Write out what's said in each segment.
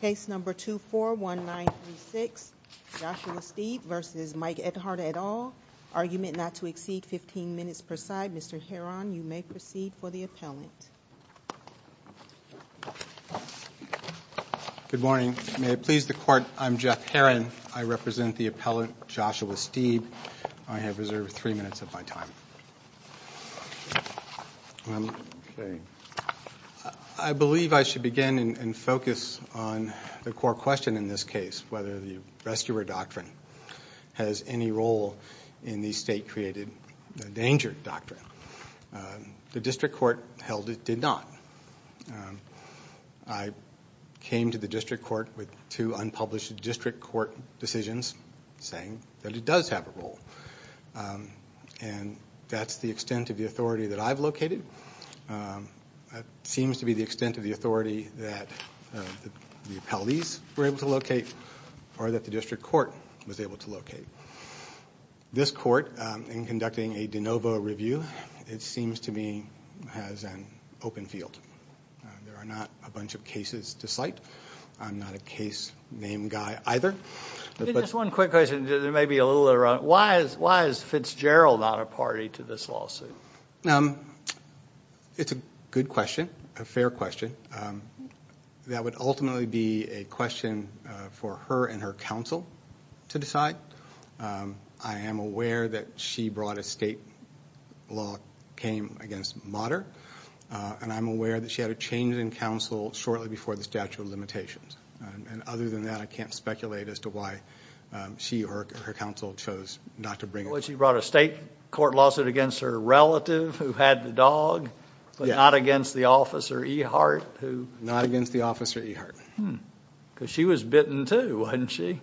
Case No. 241936, Joshua Steeb v. Mike Ehart et al., argument not to exceed 15 minutes per side. Mr. Heron, you may proceed for the appellant. Good morning. May it please the Court, I'm Jeff Heron. I represent the appellant, Joshua Steeb. I have reserved three minutes of my time. I believe I should begin and focus on the core question in this case, whether the rescuer doctrine has any role in the state-created danger doctrine. The district court held it did not. I came to the district court with two unpublished district court decisions saying that it does have a role. And that's the extent of the authority that I've located. It seems to be the extent of the authority that the appellees were able to locate or that the district court was able to locate. This court, in conducting a de novo review, it seems to me has an open field. There are not a bunch of cases to cite. I'm not a case name guy either. Just one quick question. There may be a little error. Why is Fitzgerald not a party to this lawsuit? It's a good question, a fair question. That would ultimately be a question for her and her counsel to decide. I am aware that she brought a state law came against Motter, and I'm aware that she had a change in counsel shortly before the statute of limitations. And other than that, I can't speculate as to why she or her counsel chose not to bring it. She brought a state court lawsuit against her relative who had the dog, but not against the officer Ehart? Not against the officer Ehart. Because she was bitten too, wasn't she?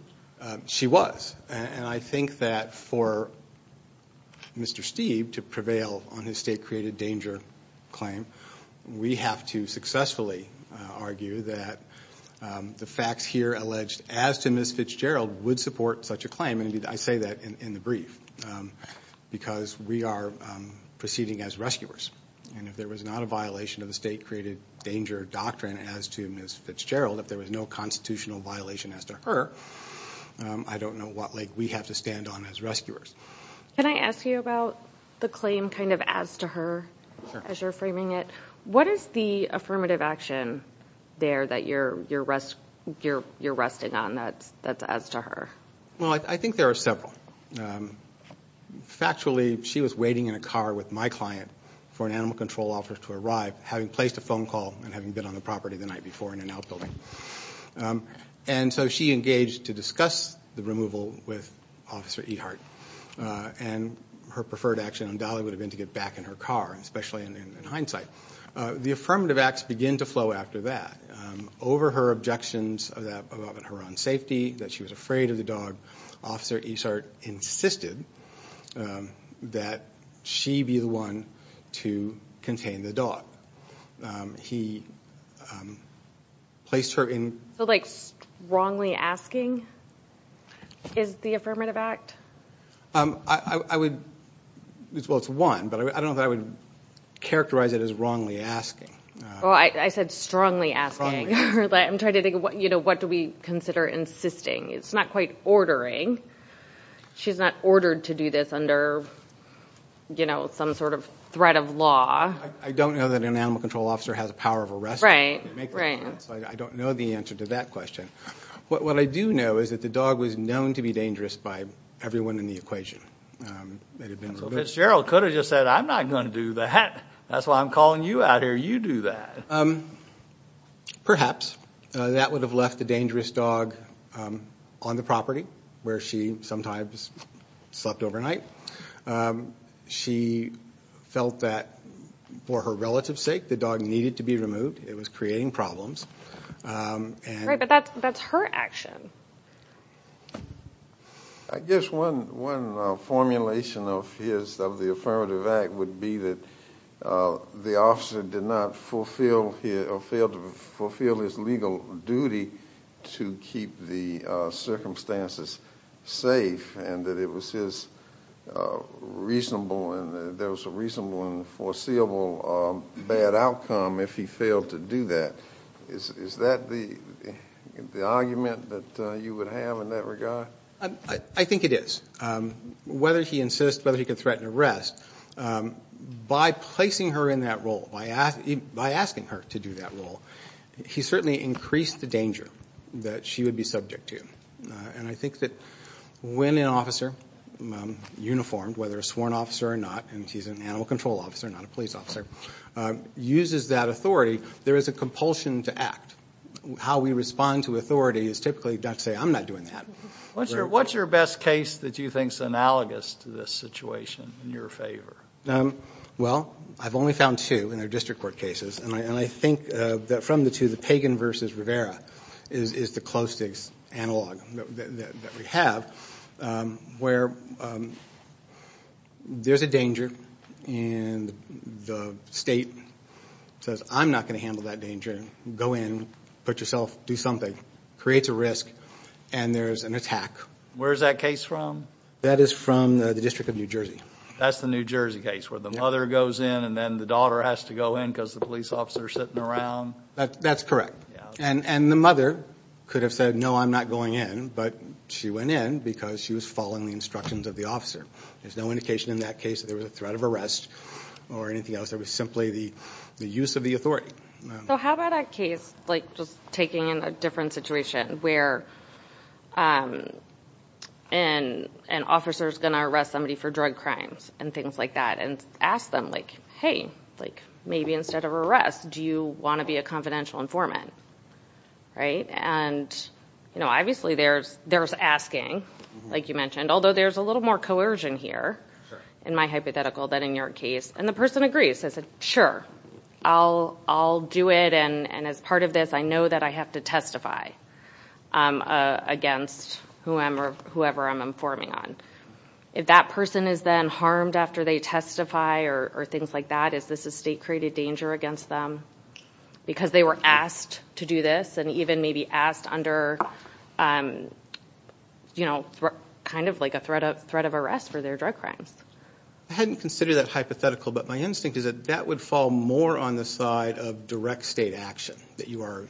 She was. And I think that for Mr. Steeve to prevail on his state created danger claim, we have to successfully argue that the facts here alleged as to Ms. Fitzgerald would support such a claim. And I say that in the brief, because we are proceeding as rescuers. And if there was not a violation of the state created danger doctrine as to Ms. Fitzgerald, if there was no constitutional violation as to her, I don't know what leg we have to stand on as rescuers. Can I ask you about the claim kind of as to her as you're framing it? What is the affirmative action there that you're resting on that's as to her? Well, I think there are several. Factually, she was waiting in a car with my client for an animal control officer to arrive, having placed a phone call and having been on the property the night before in an outbuilding. And so she engaged to discuss the removal with Officer Ehart. And her preferred action on Dolly would have been to get back in her car, especially in hindsight. The affirmative acts begin to flow after that. Over her objections about her own safety, that she was afraid of the dog, Officer Ehart insisted that she be the one to contain the dog. He placed her in – So like strongly asking is the affirmative act? I would – well, it's one, but I don't know if I would characterize it as wrongly asking. Well, I said strongly asking. I'm trying to think, you know, what do we consider insisting? It's not quite ordering. She's not ordered to do this under, you know, some sort of threat of law. I don't know that an animal control officer has a power of arrest. Right, right. I don't know the answer to that question. What I do know is that the dog was known to be dangerous by everyone in the equation. Fitzgerald could have just said, I'm not going to do that. That's why I'm calling you out here. You do that. Perhaps. That would have left the dangerous dog on the property where she sometimes slept overnight. She felt that, for her relative's sake, the dog needed to be removed. It was creating problems. Right, but that's her action. I guess one formulation of his, of the affirmative act, would be that the officer did not fulfill his legal duty to keep the circumstances safe and that it was his reasonable and there was a reasonable and foreseeable bad outcome if he failed to do that. Is that the argument that you would have in that regard? I think it is. Whether he insists, whether he could threaten arrest, by placing her in that role, by asking her to do that role, he certainly increased the danger that she would be subject to. I think that when an officer, uniformed, whether a sworn officer or not, and she's an animal control officer, not a police officer, uses that authority, there is a compulsion to act. How we respond to authority is typically not to say, I'm not doing that. What's your best case that you think is analogous to this situation in your favor? Well, I've only found two in their district court cases. And I think that from the two, the Pagan versus Rivera is the closest analog that we have, where there's a danger and the state says, I'm not going to handle that danger. Go in, put yourself, do something, creates a risk, and there's an attack. Where is that case from? That is from the District of New Jersey. That's the New Jersey case, where the mother goes in and then the daughter has to go in because the police officer is sitting around? That's correct. And the mother could have said, no, I'm not going in, but she went in because she was following the instructions of the officer. There's no indication in that case that there was a threat of arrest or anything else. It was simply the use of the authority. So how about a case, like just taking a different situation, where an officer is going to arrest somebody for drug crimes and things like that and ask them, like, hey, maybe instead of arrest, do you want to be a confidential informant? And, you know, obviously there's asking, like you mentioned, although there's a little more coercion here in my hypothetical than in your case. And the person agrees. I said, sure, I'll do it. And as part of this, I know that I have to testify against whoever I'm informing on. If that person is then harmed after they testify or things like that, is this a state-created danger against them? Because they were asked to do this and even maybe asked under, you know, kind of like a threat of arrest for their drug crimes. I hadn't considered that hypothetical, but my instinct is that that would fall more on the side of direct state action, that you are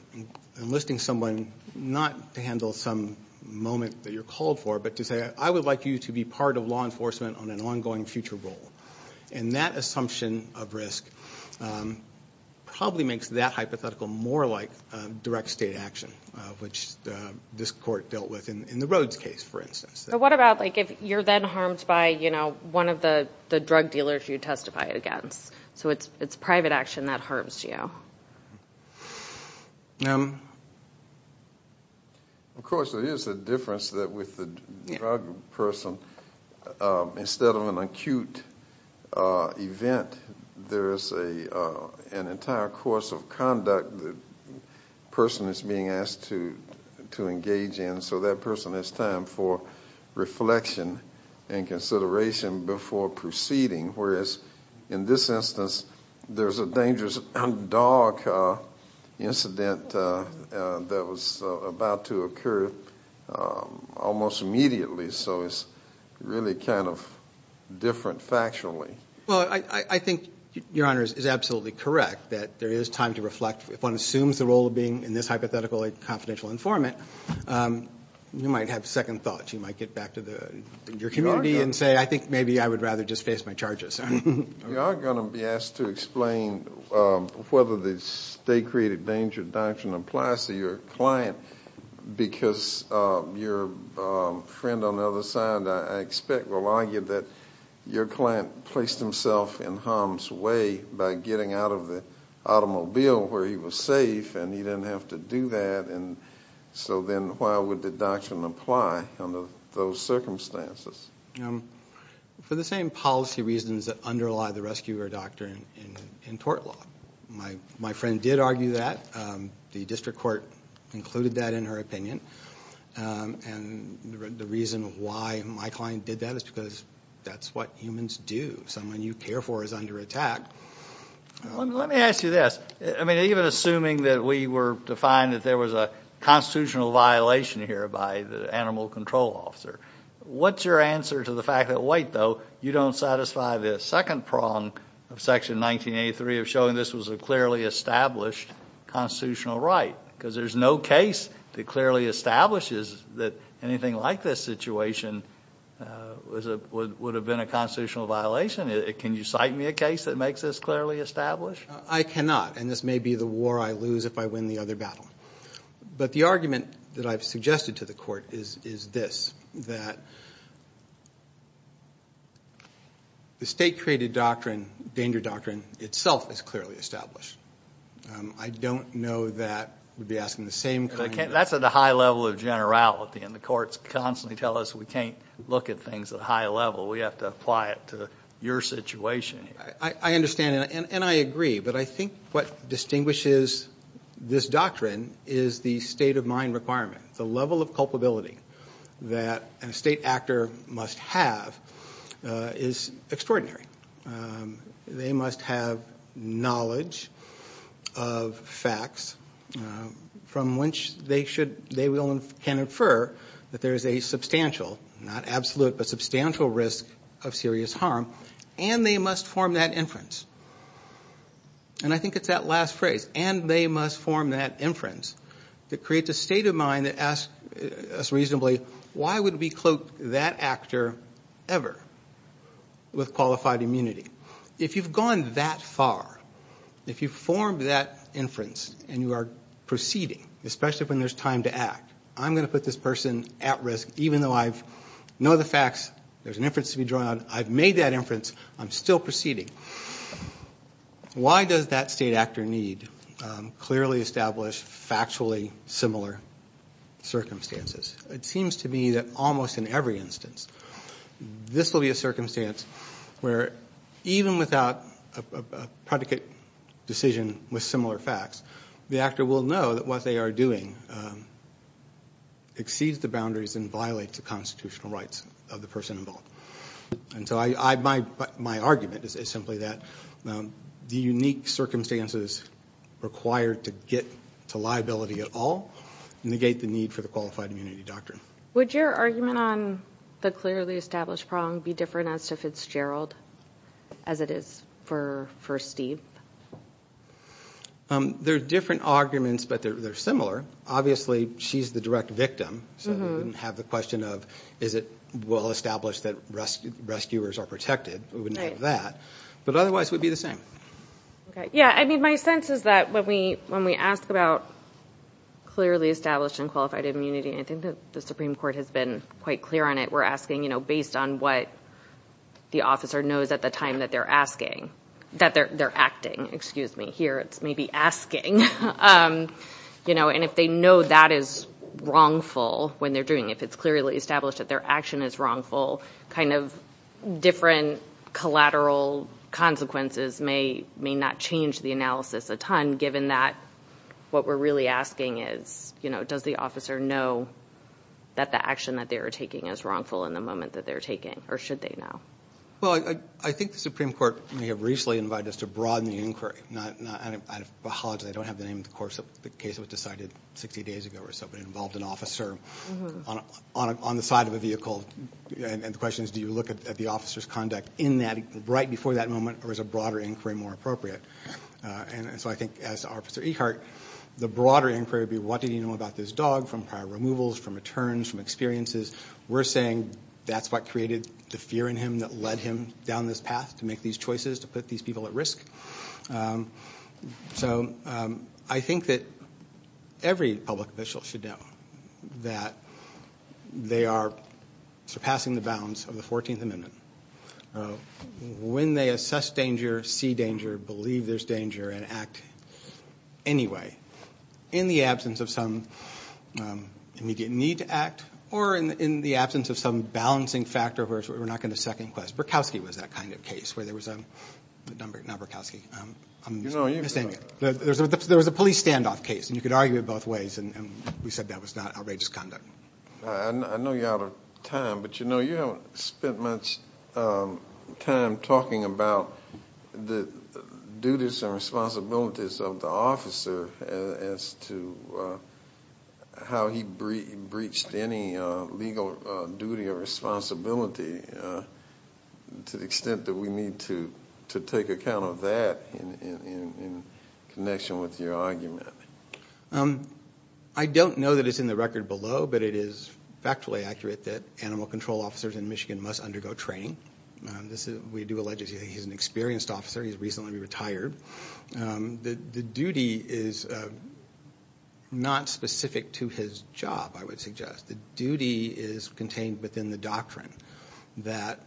enlisting someone not to handle some moment that you're called for, but to say, I would like you to be part of law enforcement on an ongoing future role. And that assumption of risk probably makes that hypothetical more like direct state action, which this court dealt with in the Rhodes case, for instance. So what about like if you're then harmed by, you know, one of the drug dealers you testified against? So it's private action that harms you. Of course, there is a difference with the drug person. Instead of an acute event, there is an entire course of conduct the person is being asked to engage in, and so that person has time for reflection and consideration before proceeding, whereas in this instance, there's a dangerous dog incident that was about to occur almost immediately, so it's really kind of different factually. Well, I think Your Honor is absolutely correct that there is time to reflect. If one assumes the role of being in this hypothetical a confidential informant, you might have second thoughts. You might get back to your community and say, I think maybe I would rather just face my charges. We are going to be asked to explain whether the state-created danger doctrine applies to your client, because your friend on the other side I expect will argue that your client placed himself in harm's way by getting out of the automobile where he was safe and he didn't have to do that, and so then why would the doctrine apply under those circumstances? For the same policy reasons that underlie the rescuer doctrine in tort law. My friend did argue that. The district court concluded that in her opinion, and the reason why my client did that is because that's what humans do. Someone you care for is under attack. Let me ask you this. I mean, even assuming that we were to find that there was a constitutional violation here by the animal control officer, what's your answer to the fact that, wait, though, you don't satisfy the second prong of Section 1983 of showing this was a clearly established constitutional right? Because there's no case that clearly establishes that anything like this situation would have been a constitutional violation. Can you cite me a case that makes this clearly established? I cannot, and this may be the war I lose if I win the other battle. But the argument that I've suggested to the court is this, that the state-created doctrine, danger doctrine itself is clearly established. I don't know that we'd be asking the same kind of question. That's at a high level of generality, and the courts constantly tell us we can't look at things at a high level. We have to apply it to your situation. I understand, and I agree. But I think what distinguishes this doctrine is the state of mind requirement. The level of culpability that a state actor must have is extraordinary. They must have knowledge of facts from which they can infer that there is a substantial, not absolute, but substantial risk of serious harm, and they must form that inference. And I think it's that last phrase, and they must form that inference, that creates a state of mind that asks us reasonably, why would we cloak that actor ever with qualified immunity? If you've gone that far, if you've formed that inference and you are proceeding, especially when there's time to act, I'm going to put this person at risk, even though I know the facts, there's an inference to be drawn, I've made that inference, I'm still proceeding. Why does that state actor need clearly established, factually similar circumstances? It seems to me that almost in every instance this will be a circumstance where, even without a predicate decision with similar facts, the actor will know that what they are doing exceeds the boundaries and violates the constitutional rights of the person involved. And so my argument is simply that the unique circumstances required to get to liability at all negate the need for the qualified immunity doctrine. Would your argument on the clearly established problem be different as to Fitzgerald, as it is for Steve? They're different arguments, but they're similar. Obviously, she's the direct victim, so we wouldn't have the question of, is it well established that rescuers are protected? We wouldn't have that. But otherwise, it would be the same. Yeah, I mean, my sense is that when we ask about clearly established and qualified immunity, I think that the Supreme Court has been quite clear on it. We're asking, you know, based on what the officer knows at the time that they're asking, that they're acting, excuse me. Here, it's maybe asking, you know, and if they know that is wrongful when they're doing it, if it's clearly established that their action is wrongful, kind of different collateral consequences may not change the analysis a ton, given that what we're really asking is, you know, does the officer know that the action that they are taking is wrongful in the moment that they're taking, or should they know? Well, I think the Supreme Court may have recently invited us to broaden the inquiry. I apologize. I don't have the name of the case that was decided 60 days ago or so, but it involved an officer on the side of a vehicle. And the question is, do you look at the officer's conduct in that, right before that moment, or is a broader inquiry more appropriate? And so I think, as to Officer Ekhart, the broader inquiry would be, what do you know about this dog from prior removals, from returns, from experiences? We're saying that's what created the fear in him that led him down this path to make these choices, to put these people at risk. So I think that every public official should know that they are surpassing the bounds of the 14th Amendment. When they assess danger, see danger, believe there's danger, and act anyway, in the absence of some immediate need to act, or in the absence of some balancing factor where we're not going to second-guess. Berkowski was that kind of case, where there was a number of, not Berkowski. There was a police standoff case, and you could argue it both ways, and we said that was not outrageous conduct. I know you're out of time, but, you know, as to how he breached any legal duty or responsibility, to the extent that we need to take account of that in connection with your argument. I don't know that it's in the record below, but it is factually accurate that animal control officers in Michigan must undergo training. We do allege that he's an experienced officer. He's recently retired. The duty is not specific to his job, I would suggest. The duty is contained within the doctrine that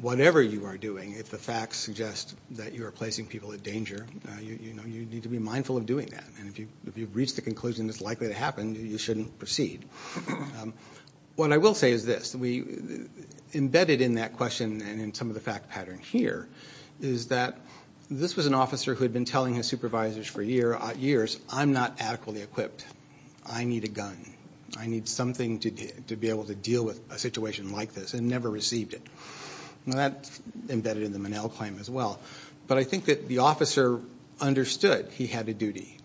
whatever you are doing, if the facts suggest that you are placing people in danger, you need to be mindful of doing that. And if you've reached the conclusion it's likely to happen, you shouldn't proceed. What I will say is this. Embedded in that question, and in some of the fact pattern here, is that this was an officer who had been telling his supervisors for years, I'm not adequately equipped. I need a gun. I need something to be able to deal with a situation like this, and never received it. Now that's embedded in the Minnell claim as well. But I think that the officer understood he had a duty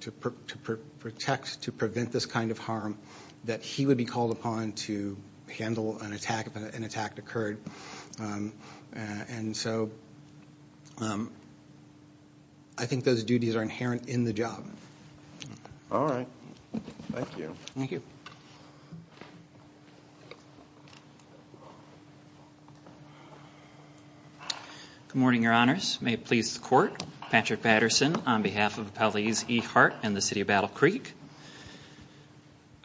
to protect, to prevent this kind of harm, that he would be called upon to handle an attack if an attack occurred. And so I think those duties are inherent in the job. All right. Thank you. Thank you. Good morning, Your Honors. May it please the Court. Patrick Patterson on behalf of Appellees E. Hart and the City of Battle Creek.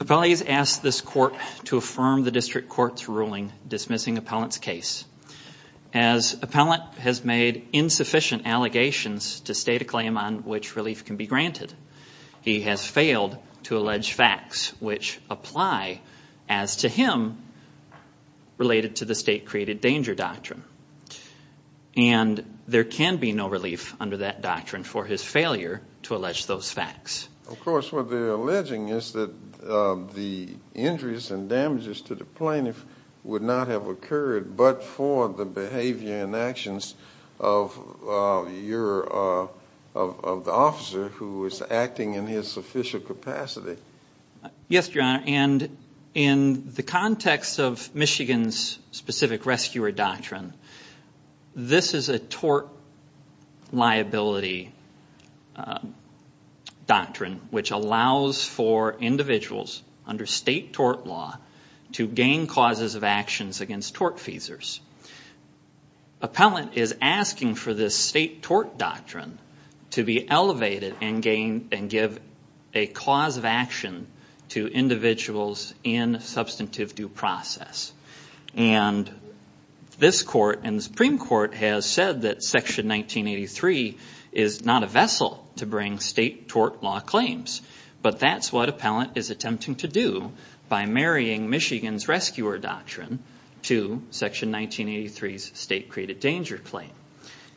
Appellees ask this Court to affirm the District Court's ruling dismissing Appellant's case. As Appellant has made insufficient allegations to state a claim on which relief can be granted, he has failed to allege facts which apply as to him related to the state created danger doctrine. And there can be no relief under that doctrine for his failure to allege those facts. Of course, what they're alleging is that the injuries and damages to the plaintiff would not have occurred but for the behavior and actions of the officer who was acting in his official capacity. Yes, Your Honor. And in the context of Michigan's specific rescuer doctrine, this is a tort liability doctrine which allows for individuals under state tort law to gain causes of actions against tort feasors. Appellant is asking for this state tort doctrine to be elevated and give a cause of action to individuals in substantive due process. And this Court and the Supreme Court has said that Section 1983 is not a vessel to bring state tort law claims. But that's what Appellant is attempting to do by marrying Michigan's rescuer doctrine to Section 1983's state created danger claim.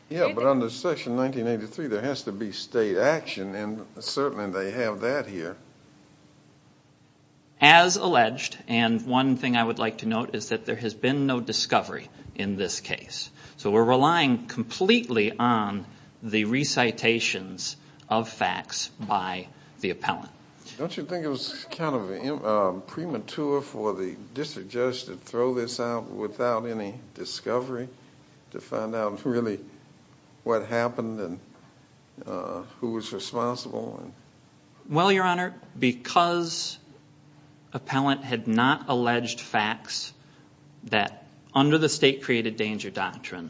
Yeah, but under Section 1983 there has to be state action and certainly they have that here. As alleged, and one thing I would like to note is that there has been no discovery in this case. So we're relying completely on the recitations of facts by the appellant. Don't you think it was kind of premature for the district judge to throw this out without any discovery to find out really what happened and who was responsible? Well, Your Honor, because appellant had not alleged facts that under the state created danger doctrine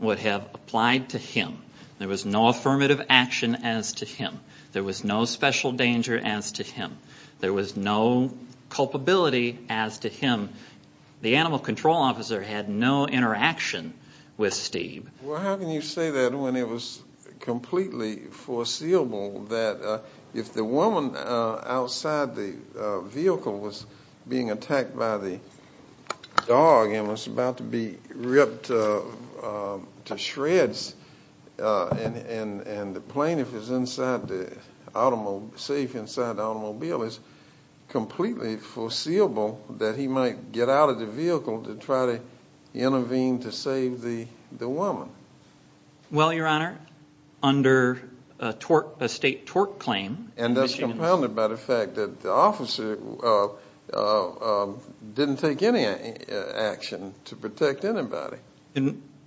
would have applied to him, there was no affirmative action as to him. There was no special danger as to him. There was no culpability as to him. The animal control officer had no interaction with Steve. Well, how can you say that when it was completely foreseeable that if the woman outside the vehicle was being attacked by the dog and was about to be ripped to shreds and the plane, the safe inside the automobile is completely foreseeable that he might get out of the vehicle to try to intervene to save the woman? Well, Your Honor, under a state tort claim. And that's compounded by the fact that the officer didn't take any action to protect anybody.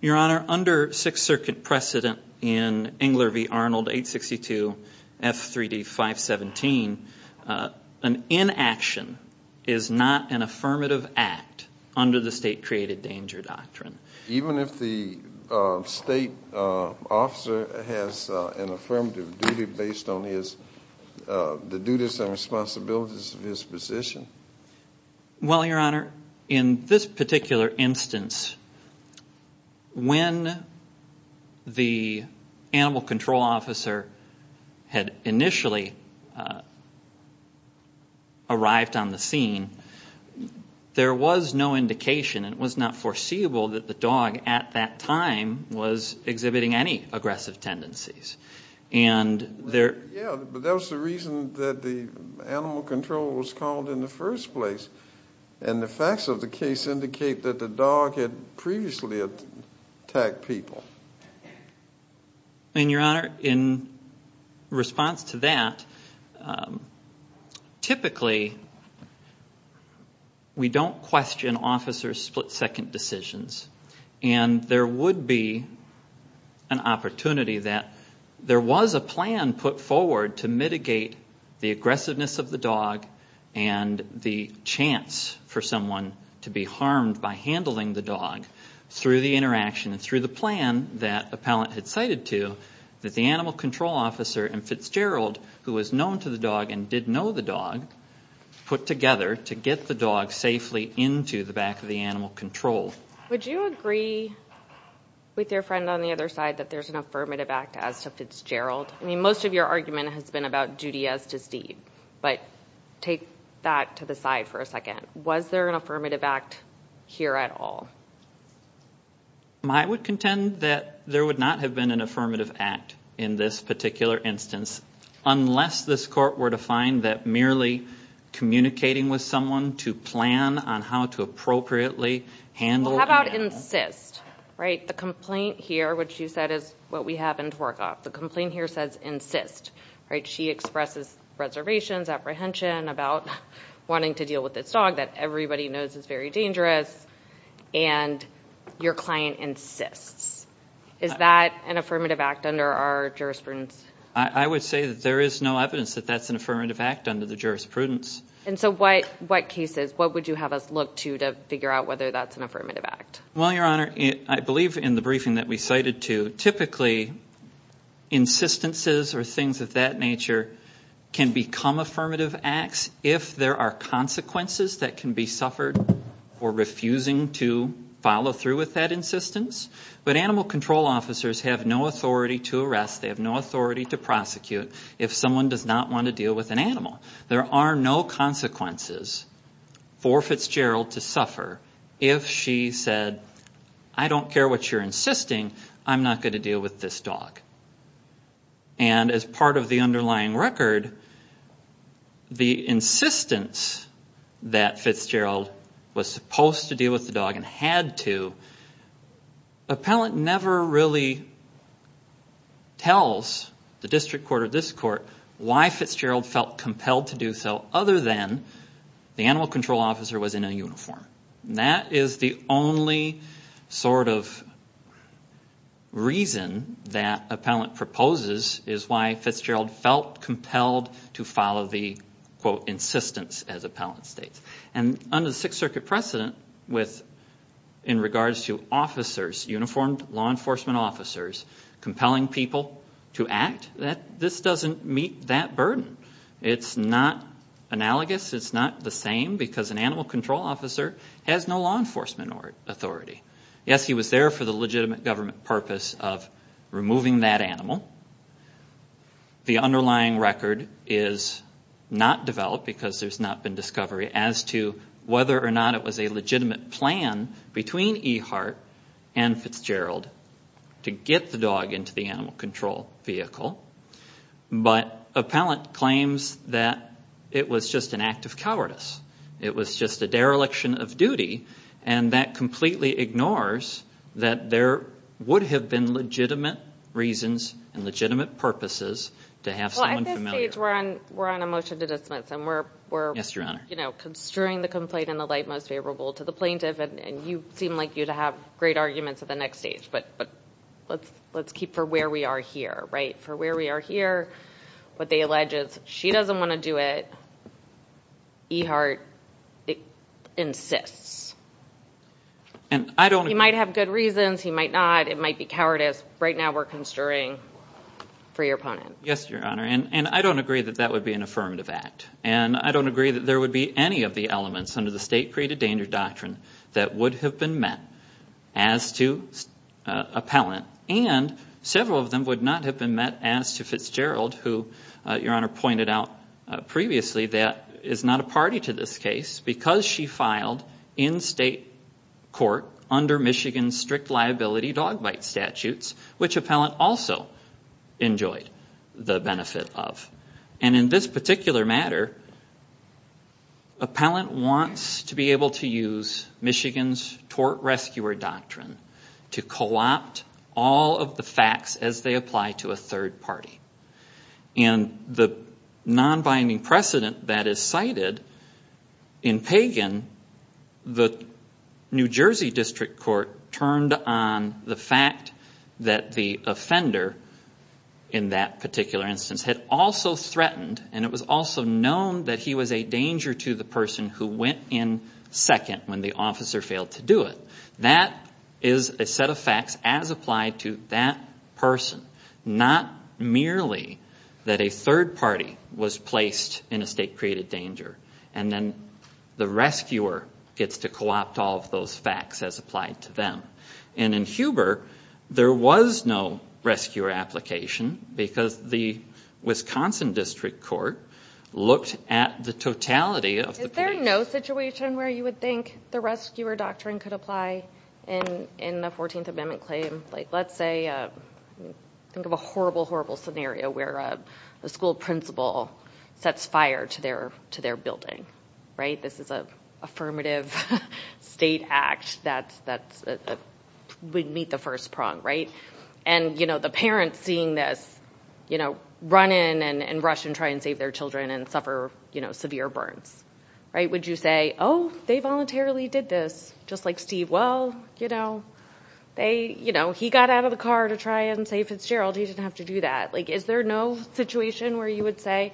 Your Honor, under Sixth Circuit precedent in Engler v. Arnold 862 F3D 517, an inaction is not an affirmative act under the state created danger doctrine. Even if the state officer has an affirmative duty based on the duties and responsibilities of his position? Well, Your Honor, in this particular instance, when the animal control officer had initially arrived on the scene, there was no indication and it was not foreseeable that the dog at that time was exhibiting any aggressive tendencies. Yeah, but that was the reason that the animal control was called in the first place. And the facts of the case indicate that the dog had previously attacked people. And, Your Honor, in response to that, typically we don't question officers' split-second decisions. And there would be an opportunity that there was a plan put forward to mitigate the aggressiveness of the dog and the chance for someone to be harmed by handling the dog through the interaction and through the plan that appellant had cited to that the animal control officer and Fitzgerald, who was known to the dog and did know the dog, put together to get the dog safely into the back of the animal control. Would you agree with your friend on the other side that there's an affirmative act as to Fitzgerald? I mean, most of your argument has been about duty as to Steve. But take that to the side for a second. Was there an affirmative act here at all? I would contend that there would not have been an affirmative act in this particular instance unless this court were to find that merely communicating with someone to plan on how to appropriately handle the animal. Well, how about insist? The complaint here, which you said is what we happen to work off, the complaint here says insist. She expresses reservations, apprehension about wanting to deal with this dog that everybody knows is very dangerous, and your client insists. Is that an affirmative act under our jurisprudence? I would say that there is no evidence that that's an affirmative act under the jurisprudence. And so what cases? What would you have us look to to figure out whether that's an affirmative act? Well, Your Honor, I believe in the briefing that we cited too, typically insistences or things of that nature can become affirmative acts if there are consequences that can be suffered for refusing to follow through with that insistence. But animal control officers have no authority to arrest. They have no authority to prosecute if someone does not want to deal with an animal. There are no consequences for Fitzgerald to suffer if she said, I don't care what you're insisting. I'm not going to deal with this dog. And as part of the underlying record, the insistence that Fitzgerald was supposed to deal with the dog and had to, appellant never really tells the district court or this court why Fitzgerald felt compelled to do so other than the animal control officer was in a uniform. That is the only sort of reason that appellant proposes is why Fitzgerald felt compelled to follow the, quote, insistence as appellant states. And under the Sixth Circuit precedent in regards to officers, uniformed law enforcement officers compelling people to act, this doesn't meet that burden. It's not analogous. It's not the same because an animal control officer has no law enforcement authority. Yes, he was there for the legitimate government purpose of removing that animal. The underlying record is not developed because there's not been discovery as to whether or not it was a legitimate plan between Ehart and Fitzgerald to get the dog into the animal control vehicle. But appellant claims that it was just an act of cowardice. It was just a dereliction of duty. And that completely ignores that there would have been legitimate reasons and legitimate purposes to have someone familiar. Well, at this stage we're on a motion to dismiss. Yes, Your Honor. And we're construing the complaint in the light most favorable to the plaintiff, and you seem like you'd have great arguments at the next stage. But let's keep for where we are here, right? For where we are here, what they allege is she doesn't want to do it. Ehart insists. He might have good reasons. He might not. It might be cowardice. Right now we're construing for your opponent. Yes, Your Honor, and I don't agree that that would be an affirmative act. And I don't agree that there would be any of the elements under the state-created danger doctrine that would have been met as to appellant, and several of them would not have been met as to Fitzgerald, who Your Honor pointed out previously that is not a party to this case because she filed in state court under Michigan's strict liability dog bite statutes, which appellant also enjoyed the benefit of. And in this particular matter, appellant wants to be able to use Michigan's tort rescuer doctrine to co-opt all of the facts as they apply to a third party. And the non-binding precedent that is cited in Pagan, the New Jersey District Court turned on the fact that the offender, in that particular instance, had also threatened, and it was also known that he was a danger to the person who went in second when the officer failed to do it. That is a set of facts as applied to that person, not merely that a third party was placed in a state-created danger and then the rescuer gets to co-opt all of those facts as applied to them. And in Huber, there was no rescuer application because the Wisconsin District Court looked at the totality of the case. Is there no situation where you would think the rescuer doctrine could apply in the 14th Amendment claim? Like, let's say, think of a horrible, horrible scenario where the school principal sets fire to their building, right? This is an affirmative state act that would meet the first prong, right? And, you know, the parents seeing this, you know, would you say, oh, they voluntarily did this, just like Steve. Well, you know, he got out of the car to try and save Fitzgerald. He didn't have to do that. Is there no situation where you would say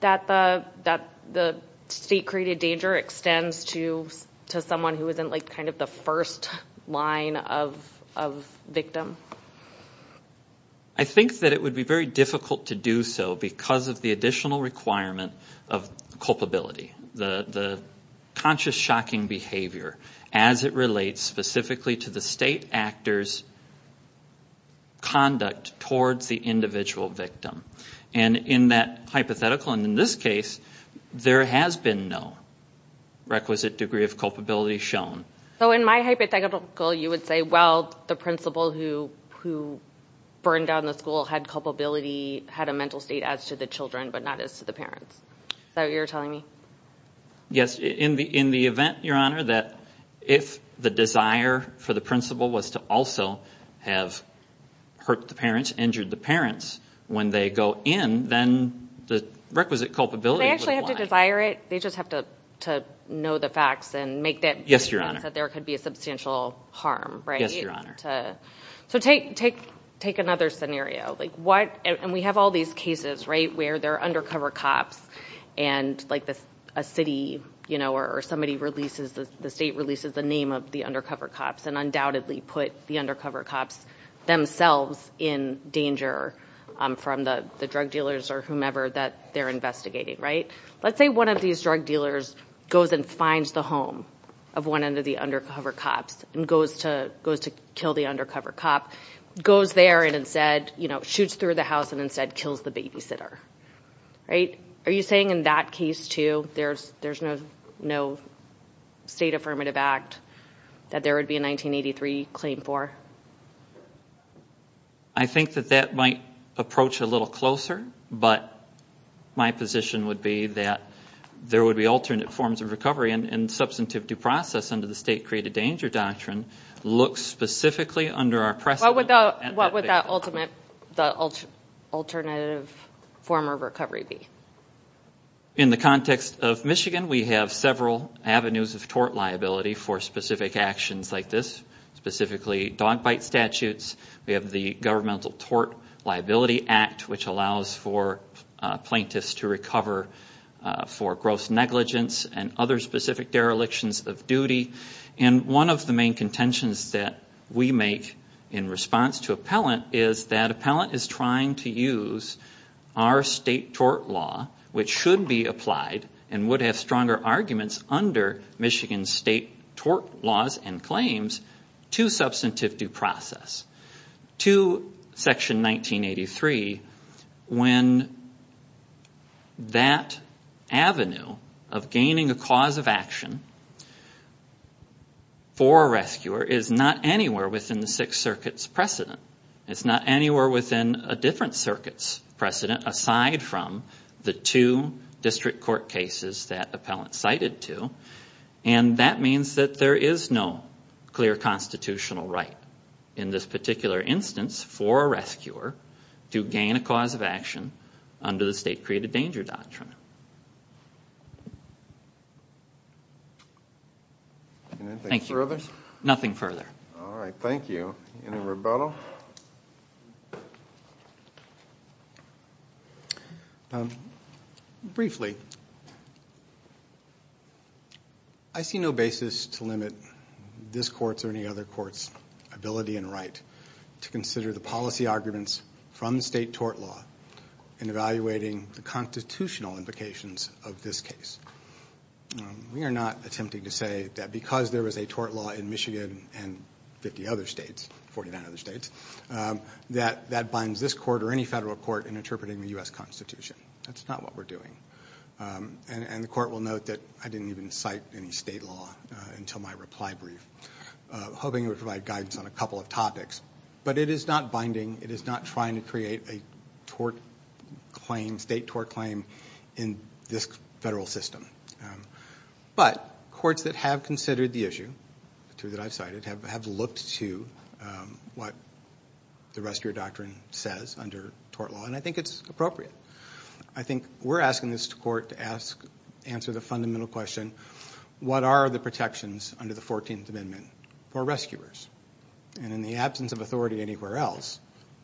that the state-created danger extends to someone who isn't kind of the first line of victim? I think that it would be very difficult to do so because of the additional requirement of culpability, the conscious shocking behavior as it relates specifically to the state actor's conduct towards the individual victim. And in that hypothetical, and in this case, there has been no requisite degree of culpability shown. So in my hypothetical, you would say, well, the principal who burned down the school had culpability, had a mental state as to the children but not as to the parents. Is that what you're telling me? Yes. In the event, Your Honor, that if the desire for the principal was to also have hurt the parents, injured the parents, when they go in, then the requisite culpability would apply. Do they actually have to desire it? They just have to know the facts and make that defense that there could be a substantial harm, right? Yes, Your Honor. So take another scenario. And we have all these cases, right, where there are undercover cops and, like, a city, you know, or somebody releases, the state releases the name of the undercover cops and undoubtedly put the undercover cops themselves in danger from the drug dealers or whomever that they're investigating, right? Let's say one of these drug dealers goes and finds the home of one of the undercover cops and goes to kill the undercover cop, goes there and instead, you know, shoots through the house and instead kills the babysitter, right? Are you saying in that case, too, there's no state affirmative act that there would be a 1983 claim for? I think that that might approach a little closer, but my position would be that there would be alternate forms of recovery and substantive due process under the State Created Danger Doctrine looks specifically under our precedent. What would that alternate form of recovery be? In the context of Michigan, we have several avenues of tort liability for specific actions like this, specifically dog bite statutes. We have the Governmental Tort Liability Act, which allows for plaintiffs to recover for gross negligence and other specific derelictions of duty. And one of the main contentions that we make in response to appellant is that appellant is trying to use our state tort law, which should be applied and would have stronger arguments under Michigan's state tort laws and claims, to substantive due process. To Section 1983, when that avenue of gaining a cause of action for a rescuer is not anywhere within the Sixth Circuit's precedent. It's not anywhere within a different circuit's precedent aside from the two district court cases that appellant cited to. And that means that there is no clear constitutional right in this particular instance for a rescuer to gain a cause of action under the State Created Danger Doctrine. Anything further? Nothing further. All right, thank you. Any rebuttal? Briefly, I see no basis to limit this court's or any other court's ability and right to consider the policy arguments from the state tort law in evaluating the constitutional implications of this case. We are not attempting to say that because there was a tort law in Michigan and 50 other states, 49 other states, that that binds this court or any federal court in interpreting the U.S. Constitution. That's not what we're doing. And the court will note that I didn't even cite any state law until my reply brief, hoping it would provide guidance on a couple of topics. But it is not binding. It is not trying to create a state tort claim in this federal system. But courts that have considered the issue, the two that I've cited, have looked to what the rescuer doctrine says under tort law, and I think it's appropriate. I think we're asking this court to answer the fundamental question, what are the protections under the 14th Amendment for rescuers? And in the absence of authority anywhere else,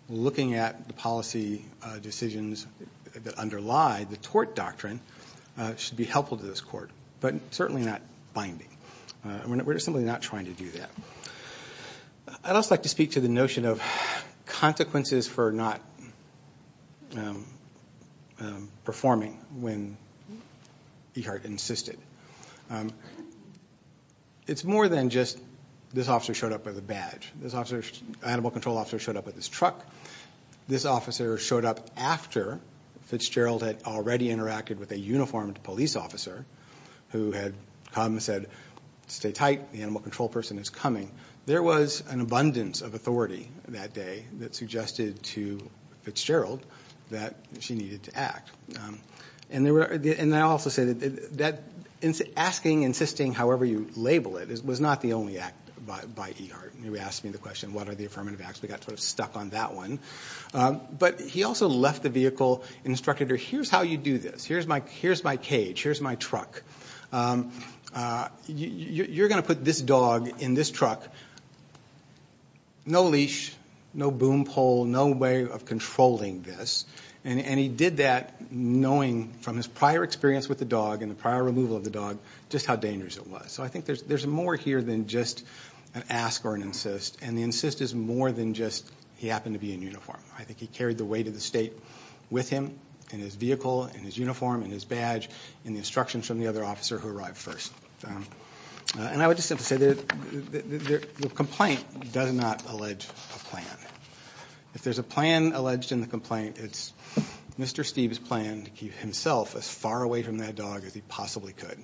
looking at the policy decisions that underlie the tort doctrine should be helpful to this court, but certainly not binding. We're simply not trying to do that. I'd also like to speak to the notion of consequences for not performing when Ehart insisted. It's more than just this officer showed up with a badge. This animal control officer showed up with his truck. This officer showed up after Fitzgerald had already interacted with a uniformed police officer who had come and said, stay tight, the animal control person is coming. There was an abundance of authority that day that suggested to Fitzgerald that she needed to act. And I'll also say that asking, insisting, however you label it, was not the only act by Ehart. He asked me the question, what are the affirmative acts? We got sort of stuck on that one. But he also left the vehicle and instructed her, here's how you do this. Here's my cage. Here's my truck. You're going to put this dog in this truck, no leash, no boom pole, no way of controlling this. And he did that knowing from his prior experience with the dog and the prior removal of the dog just how dangerous it was. So I think there's more here than just an ask or an insist. And the insist is more than just he happened to be in uniform. I think he carried the weight of the state with him in his vehicle, in his uniform, in his badge, in the instructions from the other officer who arrived first. And I would just simply say the complaint does not allege a plan. If there's a plan alleged in the complaint, it's Mr. Steeve's plan to keep himself as far away from that dog as he possibly could.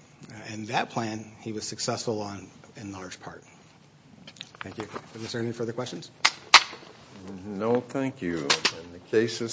And that plan he was successful on in large part. Thank you. Is there any further questions? No, thank you. And the case is submitted.